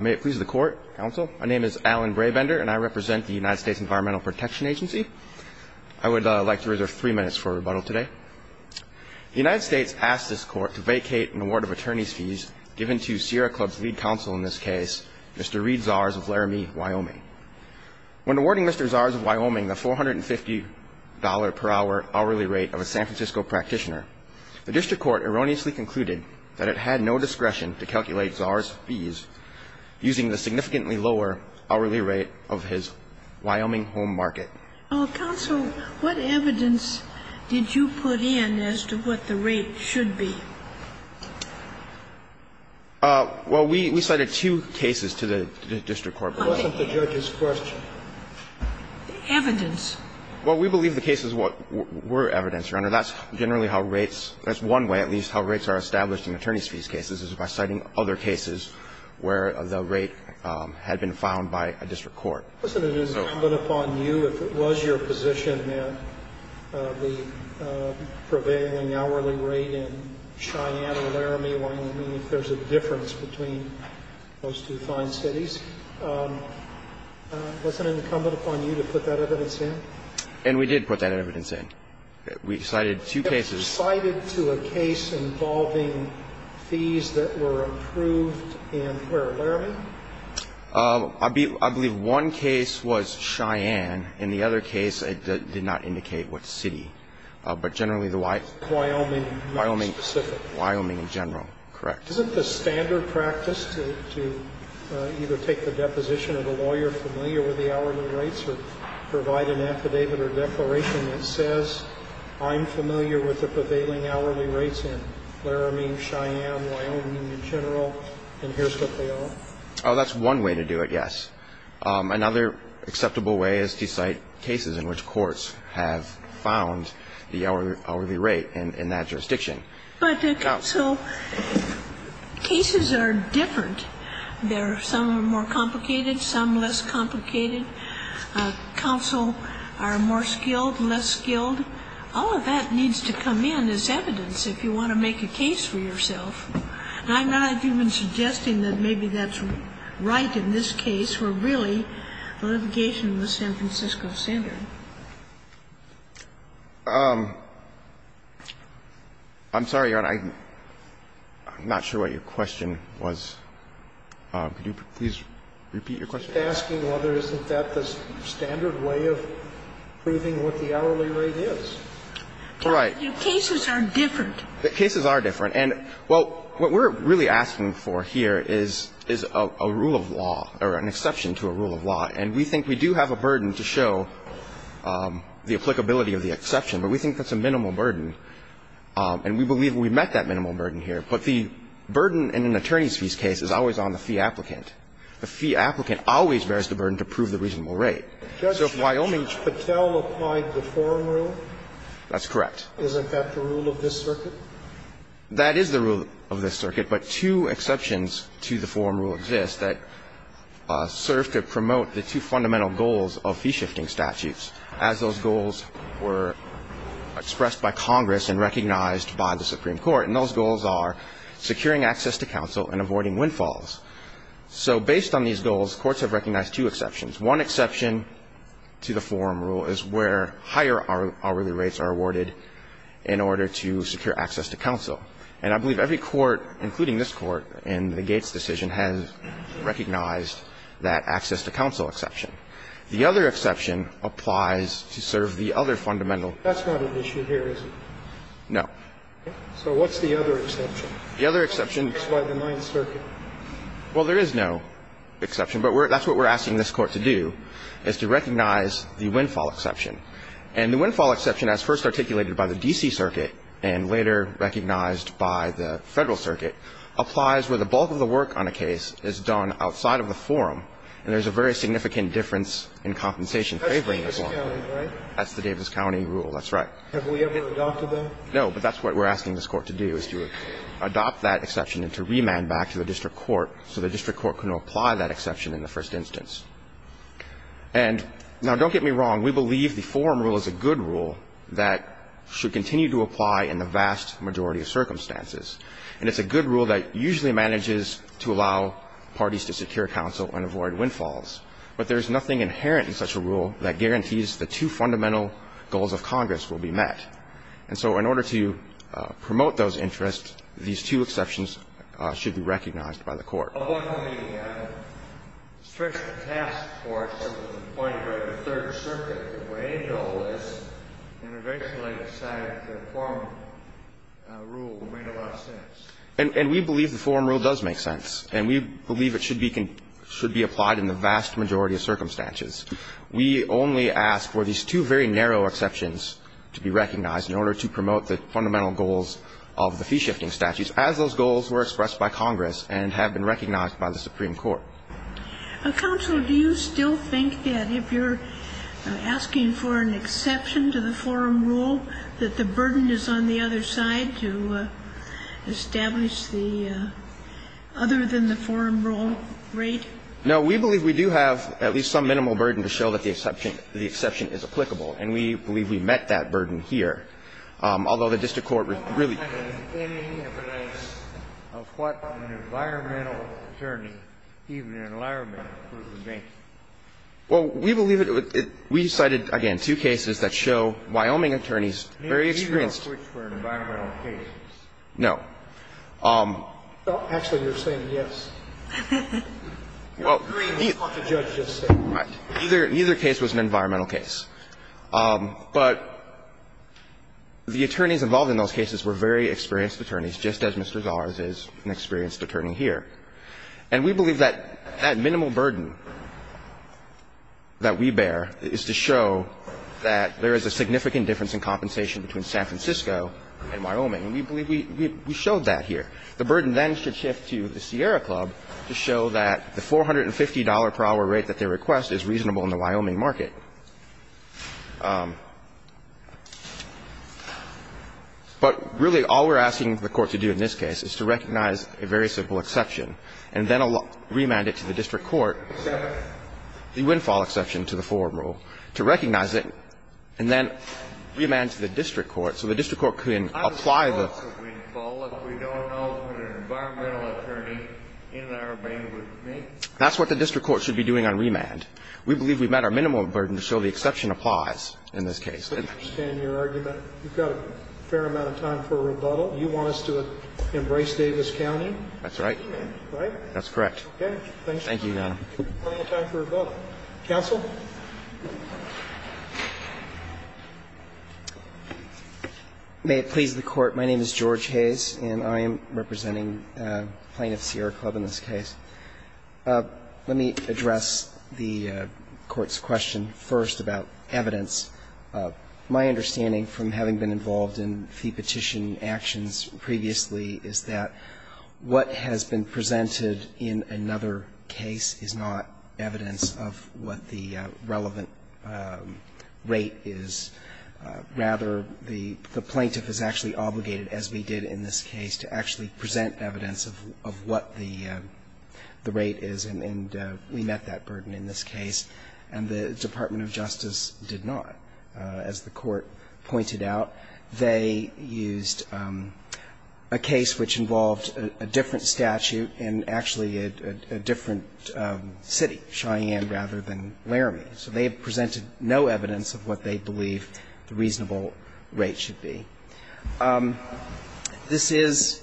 May it please the Court, Counsel. My name is Alan Brabender and I represent the United States Environmental Protection Agency. I would like to reserve three minutes for rebuttal today. The United States asked this Court to vacate an award of attorney's fees given to Sierra Club's lead counsel in this case, Mr. Reid Zars of Laramie, Wyoming. When awarding Mr. Zars of Wyoming the $450 per hour hourly rate of a San Francisco practitioner, the district court erroneously concluded that it had no discretion to calculate Zars' fees using the significantly lower hourly rate of his Wyoming home market. Counsel, what evidence did you put in as to what the rate should be? Well, we cited two cases to the district court. It wasn't the judge's question. Evidence. Well, we believe the case is what were evidence, Your Honor. That's generally how rates – that's one way at least how rates are established in attorney's fees cases is by citing other cases where the rate had been found by a district court. Wasn't it incumbent upon you, if it was your position that the prevailing hourly rate in Cheyenne or Laramie, Wyoming, if there's a difference between those two fine cities, wasn't it incumbent upon you to put that evidence in? And we did put that evidence in. We cited two cases. You cited to a case involving fees that were approved in where, Laramie? I believe one case was Cheyenne and the other case did not indicate what city, but generally the Wyoming. Wyoming, not specific. Wyoming in general, correct. Isn't the standard practice to either take the deposition of a lawyer familiar with the hourly rates or provide an affidavit or declaration that says I'm familiar with the prevailing hourly rates in Laramie, Cheyenne, Wyoming in general, and here's what they are? Oh, that's one way to do it, yes. Another acceptable way is to cite cases in which courts have found the hourly rate in that jurisdiction. But, counsel, cases are different. Some are more complicated, some less complicated. Counsel are more skilled, less skilled. All of that needs to come in as evidence if you want to make a case for yourself. I'm not even suggesting that maybe that's right in this case. We're really litigation in the San Francisco standard. I'm sorry, Your Honor. I'm not sure what your question was. Could you please repeat your question? He's asking whether isn't that the standard way of proving what the hourly rate is. All right. Your cases are different. The cases are different. And, well, what we're really asking for here is a rule of law or an exception to a rule of law. And we think we do have a burden to show the applicability of the exception. But we think that's a minimal burden. And we believe we've met that minimal burden here. But the burden in an attorney's fees case is always on the fee applicant. The fee applicant always bears the burden to prove the reasonable rate. So if Wyoming's Patel applied the forum rule? That's correct. Isn't that the rule of this circuit? That is the rule of this circuit. But two exceptions to the forum rule exist that serve to promote the two fundamental goals of fee-shifting statutes as those goals were expressed by Congress and recognized by the Supreme Court. And those goals are securing access to counsel and avoiding windfalls. So based on these goals, courts have recognized two exceptions. One exception to the forum rule is where higher hourly rates are awarded in order to secure access to counsel. And I believe every court, including this Court in the Gates decision, has recognized that access to counsel exception. The other exception applies to serve the other fundamental. That's not an issue here, is it? No. So what's the other exception? The other exception. It's by the Ninth Circuit. Well, there is no exception. But that's what we're asking this Court to do, is to recognize the windfall exception. And the windfall exception, as first articulated by the D.C. Circuit and later recognized by the Federal Circuit, applies where the bulk of the work on a case is done outside of the forum, and there's a very significant difference in compensation favoring the forum. That's Davis County, right? That's the Davis County rule. That's right. Have we ever adopted that? No. But that's what we're asking this Court to do, is to adopt that exception and to remand back to the district court so the district court can apply that exception in the first instance. And now, don't get me wrong, we believe the forum rule is a good rule that should continue to apply in the vast majority of circumstances. And it's a good rule that usually manages to allow parties to secure counsel and avoid windfalls. But there's nothing inherent in such a rule that guarantees the two fundamental goals of Congress will be met. And so in order to promote those interests, these two exceptions should be recognized by the Court. Well, going from the special task force to the point of the Third Circuit, the way it all is, and eventually decided that the forum rule made a lot of sense. And we believe the forum rule does make sense, and we believe it should be applied in the vast majority of circumstances. We only ask for these two very narrow exceptions to be recognized in order to promote the fundamental goals of the fee-shifting statutes, as those goals were expressed by Congress and have been recognized by the Supreme Court. Counsel, do you still think that if you're asking for an exception to the forum rule, that the burden is on the other side to establish the other than the forum rule rate? No. We believe we do have at least some minimal burden to show that the exception is applicable. And we believe we met that burden here. Although the district court really ---- Any evidence of what an environmental attorney, even an environmental attorney, would think? Well, we believe it would be ---- we cited, again, two cases that show Wyoming attorneys very experienced ---- Neither of which were environmental cases. No. Well, actually, you're saying yes. Well, neither case was an environmental case. But the attorneys involved in those cases were very experienced attorneys, just as Mr. Zars is an experienced attorney here. And we believe that that minimal burden that we bear is to show that there is a significant difference in compensation between San Francisco and Wyoming. And we believe we showed that here. The burden then should shift to the Sierra Club to show that the $450 per hour rate that they request is reasonable in the Wyoming market. But, really, all we're asking the Court to do in this case is to recognize a very simple exception, and then remand it to the district court, the windfall exception to the forward rule, to recognize it, and then remand to the district court so the district court can apply the ---- I don't know what's a windfall if we don't know what an environmental attorney in our domain would think. That's what the district court should be doing on remand. We believe we've met our minimum burden, so the exception applies in this case. And I understand your argument. You've got a fair amount of time for rebuttal. You want us to embrace Davis County? That's right. Right? That's correct. Okay. Thank you. Thank you, Your Honor. We've got plenty of time for rebuttal. Counsel? May it please the Court. My name is George Hayes, and I am representing Plaintiff Sierra Club in this case. Let me address the Court's question first about evidence. My understanding from having been involved in fee petition actions previously is that what has been presented in another case is not evidence of what the relevant rate is. Rather, the plaintiff is actually obligated, as we did in this case, to actually present evidence of what the rate is, and we met that burden in this case. And the Department of Justice did not. As the Court pointed out, they used a case which involved a different statute in actually a different city, Cheyenne, rather than Laramie. So they have presented no evidence of what they believe the reasonable rate should be. This is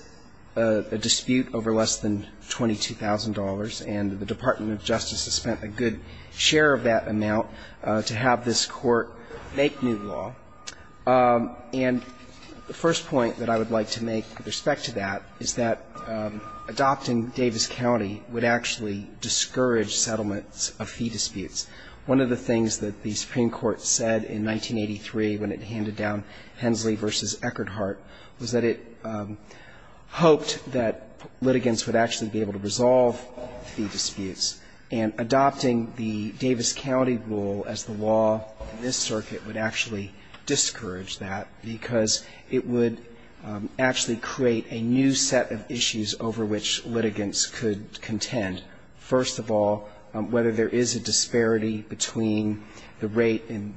a dispute over less than $22,000, and the Department of Justice has spent a good share of that amount to have this Court make new law. And the first point that I would like to make with respect to that is that adopting Davis County would actually discourage settlements of fee disputes. One of the things that the Supreme Court said in 1983 when it handed down Hensley v. Eckerdhart was that it hoped that litigants would actually be able to resolve fee disputes. And adopting the Davis County rule as the law in this circuit would actually discourage that because it would actually create a new set of issues over which litigants could contend. First of all, whether there is a disparity between the rate in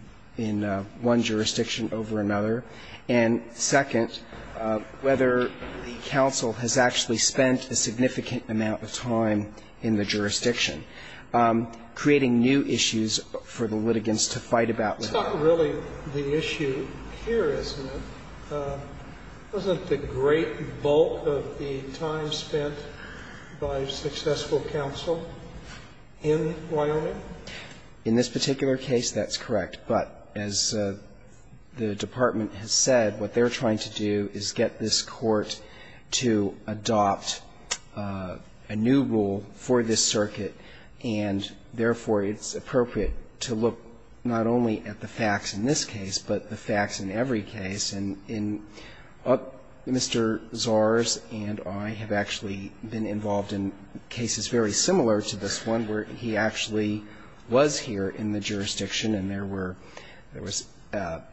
one jurisdiction over another. And second, whether the counsel has actually spent a significant amount of time in the jurisdiction, creating new issues for the litigants to fight about. Scalia. It's not really the issue here, is it? Wasn't the great bulk of the time spent by successful counsel in Wyoming? In this particular case, that's correct. But as the Department has said, what they're trying to do is get this Court to adopt a new rule for this circuit. And therefore, it's appropriate to look not only at the facts in this case, but the facts in the case itself. And that's what we're trying to do. And Mr. Zars and I have actually been involved in cases very similar to this one, where he actually was here in the jurisdiction and there were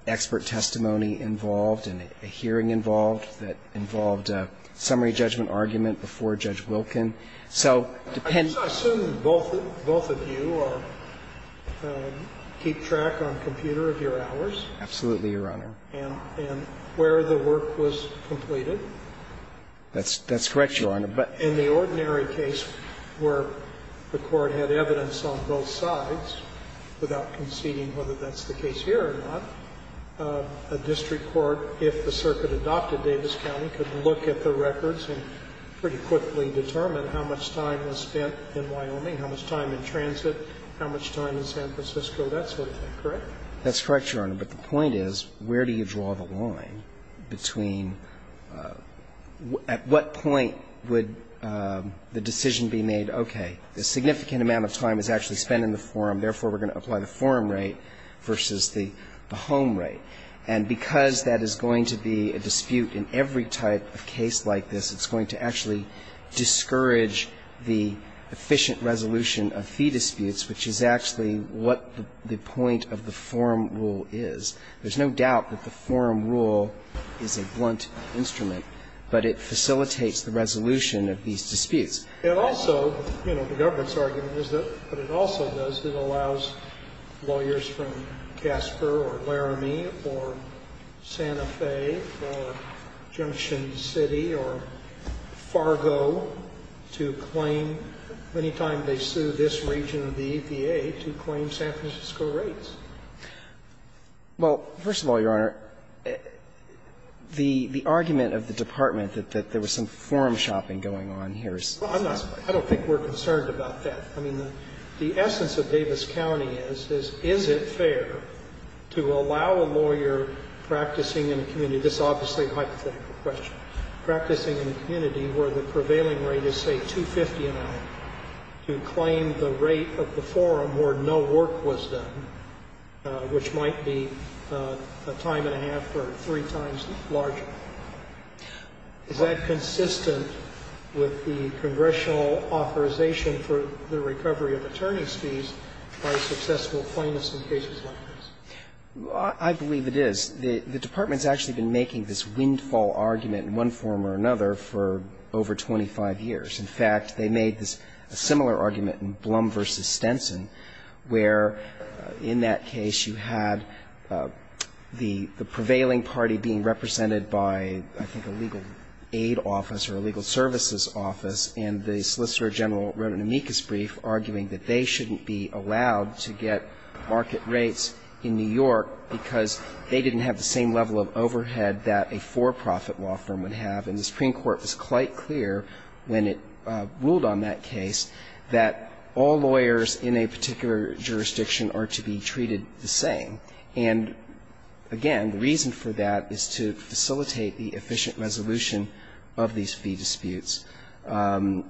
expert testimony involved and a hearing involved that involved a summary judgment argument before Judge Wilkin. And so it depends. I assume both of you keep track on computer of your hours. Absolutely, Your Honor. And where the work was completed. That's correct, Your Honor. But in the ordinary case where the Court had evidence on both sides without conceding whether that's the case here or not, a district court, if the circuit adopted Davis County, could look at the records and pretty quickly determine how much time was spent in Wyoming, how much time in transit, how much time in San Francisco, that sort of thing, correct? That's correct, Your Honor. But the point is, where do you draw the line between at what point would the decision be made, okay, a significant amount of time is actually spent in the forum, therefore we're going to apply the forum rate versus the home rate. And because that is going to be a dispute in every type of case like this, it's going to actually discourage the efficient resolution of fee disputes, which is actually what the point of the forum rule is. There's no doubt that the forum rule is a blunt instrument, but it facilitates the resolution of these disputes. And also, you know, the government's argument is that, but it also does, that it allows lawyers from Casper or Laramie or Santa Fe or Junction City or Fargo to claim, any time they sue this region of the EPA, to claim San Francisco rates. Well, first of all, Your Honor, the argument of the department that there was some forum shopping going on here is false. Well, I'm not, I don't think we're concerned about that. I mean, the essence of Davis County is, is it fair to allow a lawyer practicing in a community, this is obviously a hypothetical question, practicing in a community where the prevailing rate is, say, 250 an hour, to claim the rate of the forum where no work was done, which might be a time and a half or three times larger. Is that consistent with the congressional authorization for the recovery of attorneys' fees by successful plaintiffs in cases like this? I believe it is. The department's actually been making this windfall argument in one form or another for over 25 years. In fact, they made this similar argument in Blum v. Stenson, where in that case you had the prevailing party being represented by, I think, a legal aid office or a legal services office, and the solicitor general wrote an amicus brief arguing that they shouldn't be allowed to get market rates in New York because they didn't have the same level of overhead that a for-profit law firm would have. And the Supreme Court was quite clear when it ruled on that case that all lawyers in a particular jurisdiction are to be treated the same. And again, the reason for that is to facilitate the efficient resolution of these fee disputes. You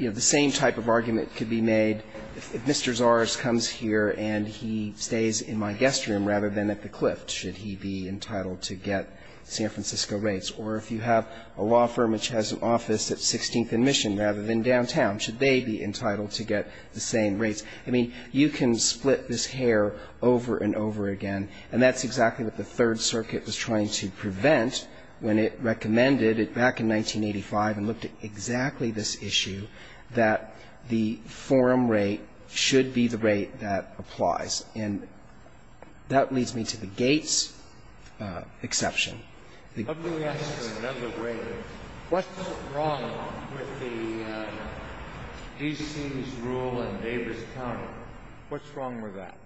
know, the same type of argument could be made if Mr. Zars comes here and he stays in my guest room rather than at the Clift, should he be entitled to get San Francisco rates, or if you have a law firm which has an office at 16th and Mission rather than downtown, should they be entitled to get the same rates? I mean, you can split this hair over and over again, and that's exactly what the Third Circuit was trying to prevent when it recommended it back in 1985 and looked at exactly this issue, that the forum rate should be the rate that applies. And that leads me to the Gates exception. The Gates exception. Breyer. Let me ask you another way. What's wrong with the D.C.'s rule in Davis County? What's wrong with that?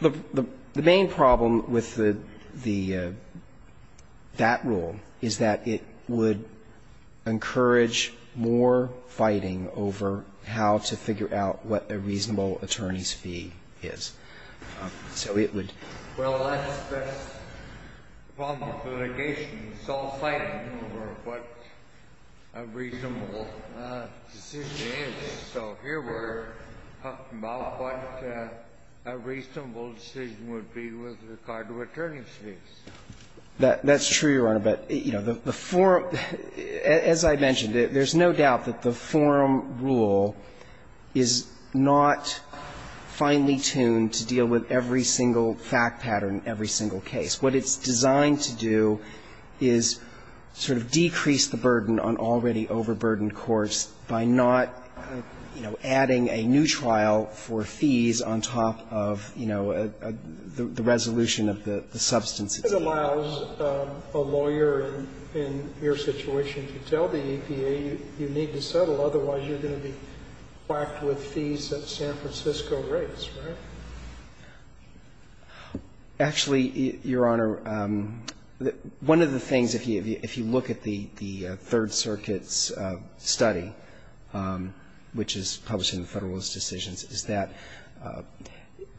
The main problem with the that rule is that it would encourage more fighting over how to figure out what a reasonable attorney's fee is. So it would be a reasonable decision. So here we're talking about what a reasonable decision would be with regard to attorney's That's true, Your Honor. But, you know, the forum, as I mentioned, there's no doubt that the forum rule is not finely tuned to deal with every single fact pattern in every single case. What it's designed to do is sort of decrease the burden on already overburdened courts by not, you know, adding a new trial for fees on top of, you know, the resolution of the substance itself. So it allows a lawyer in your situation to tell the EPA, you need to settle, otherwise you're going to be whacked with fees that San Francisco rates, right? Actually, Your Honor, one of the things, if you look at the Third Circuit's study, which is published in the Federalist Decisions, is that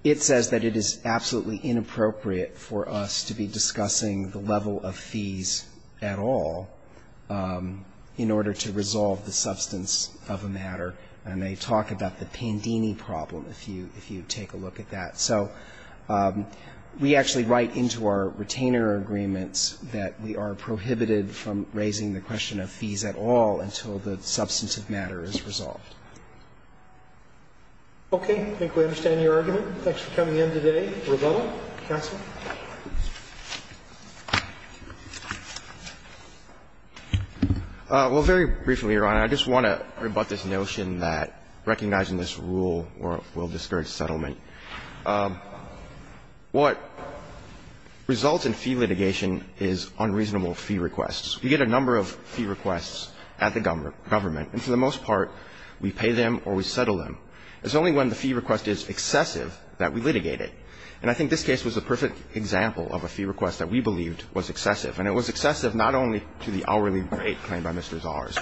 it says that it is absolutely inappropriate for us to be discussing the level of fees at all in order to resolve the substance of a matter. And they talk about the Pandini problem, if you take a look at that. So we actually write into our retainer agreements that we are prohibited from raising the question of fees at all until the substance of matter is resolved. Okay. I think we understand your argument. Thanks for coming in today. Mr. Rubato. Counsel. Well, very briefly, Your Honor, I just want to rebut this notion that recognizing this rule will discourage settlement. What results in fee litigation is unreasonable fee requests. We get a number of fee requests at the government, and for the most part we pay them or we settle them. It's only when the fee request is excessive that we litigate it. And I think this case was a perfect example of a fee request that we believed was excessive. And it was excessive not only to the hourly rate claimed by Mr. Zahars,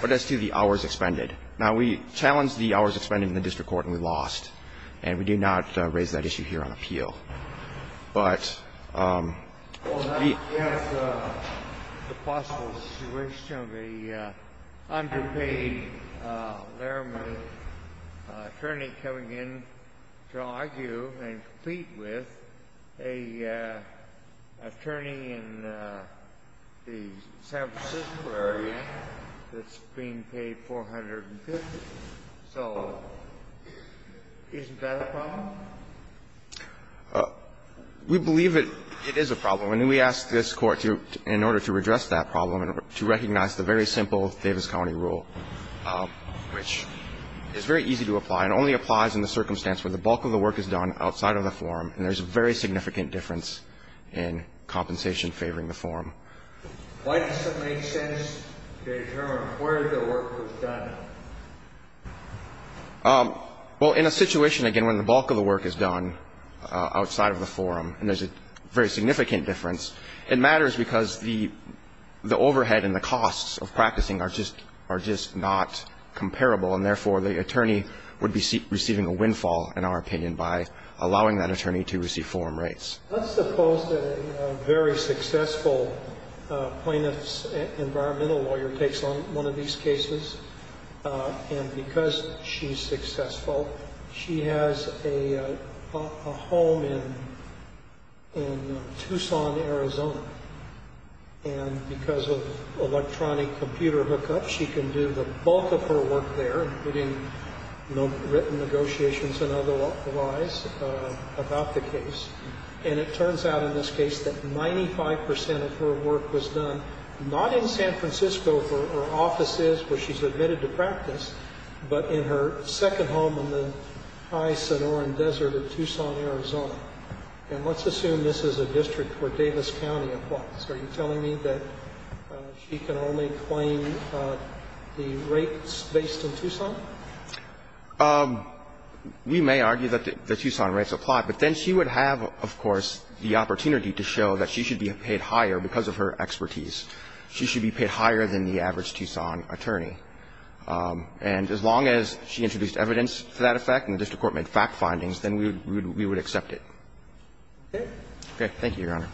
but as to the hours expended. Now, we challenged the hours expended in the district court, and we lost, and we do not raise that issue here on appeal. But we ---- Well, that's just the possible situation of an underpaid, laramie attorney coming in to argue and compete with an attorney in the San Francisco area that's being paid $450,000. So isn't that a problem? We believe it is a problem. And we ask this Court to, in order to address that problem, to recognize the very easy to apply. It only applies in the circumstance where the bulk of the work is done outside of the forum, and there's a very significant difference in compensation favoring the forum. Why does it make sense to determine where the work was done? Well, in a situation, again, when the bulk of the work is done outside of the forum, and there's a very significant difference, it matters because the overhead and the costs of practicing are just not comparable. And therefore, the attorney would be receiving a windfall, in our opinion, by allowing that attorney to receive forum rates. Let's suppose that a very successful plaintiff's environmental lawyer takes on one of these cases, and because she's successful, she has a home in Tucson, Arizona. And because of electronic computer hookups, she can do the bulk of her work there, including written negotiations and otherwise, about the case. And it turns out, in this case, that 95% of her work was done not in San Francisco, where her office is, where she's admitted to practice, but in her second home in the high Sonoran Desert of Tucson, Arizona. And let's assume this is a district where Davis County applies. Are you telling me that she can only claim the rates based in Tucson? We may argue that the Tucson rates apply, but then she would have, of course, the opportunity to show that she should be paid higher because of her expertise. She should be paid higher than the average Tucson attorney. And as long as she introduced evidence to that effect, and that's what we're trying to do, we're not going to argue that she should be paid higher than the average Tucson attorney. Okay? Okay, thank you, Your Honor.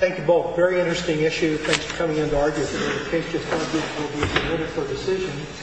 Thank you both. Very interesting issue. Thanks for coming in to argue with me. The case just concludes. We'll be in a minute for a decision.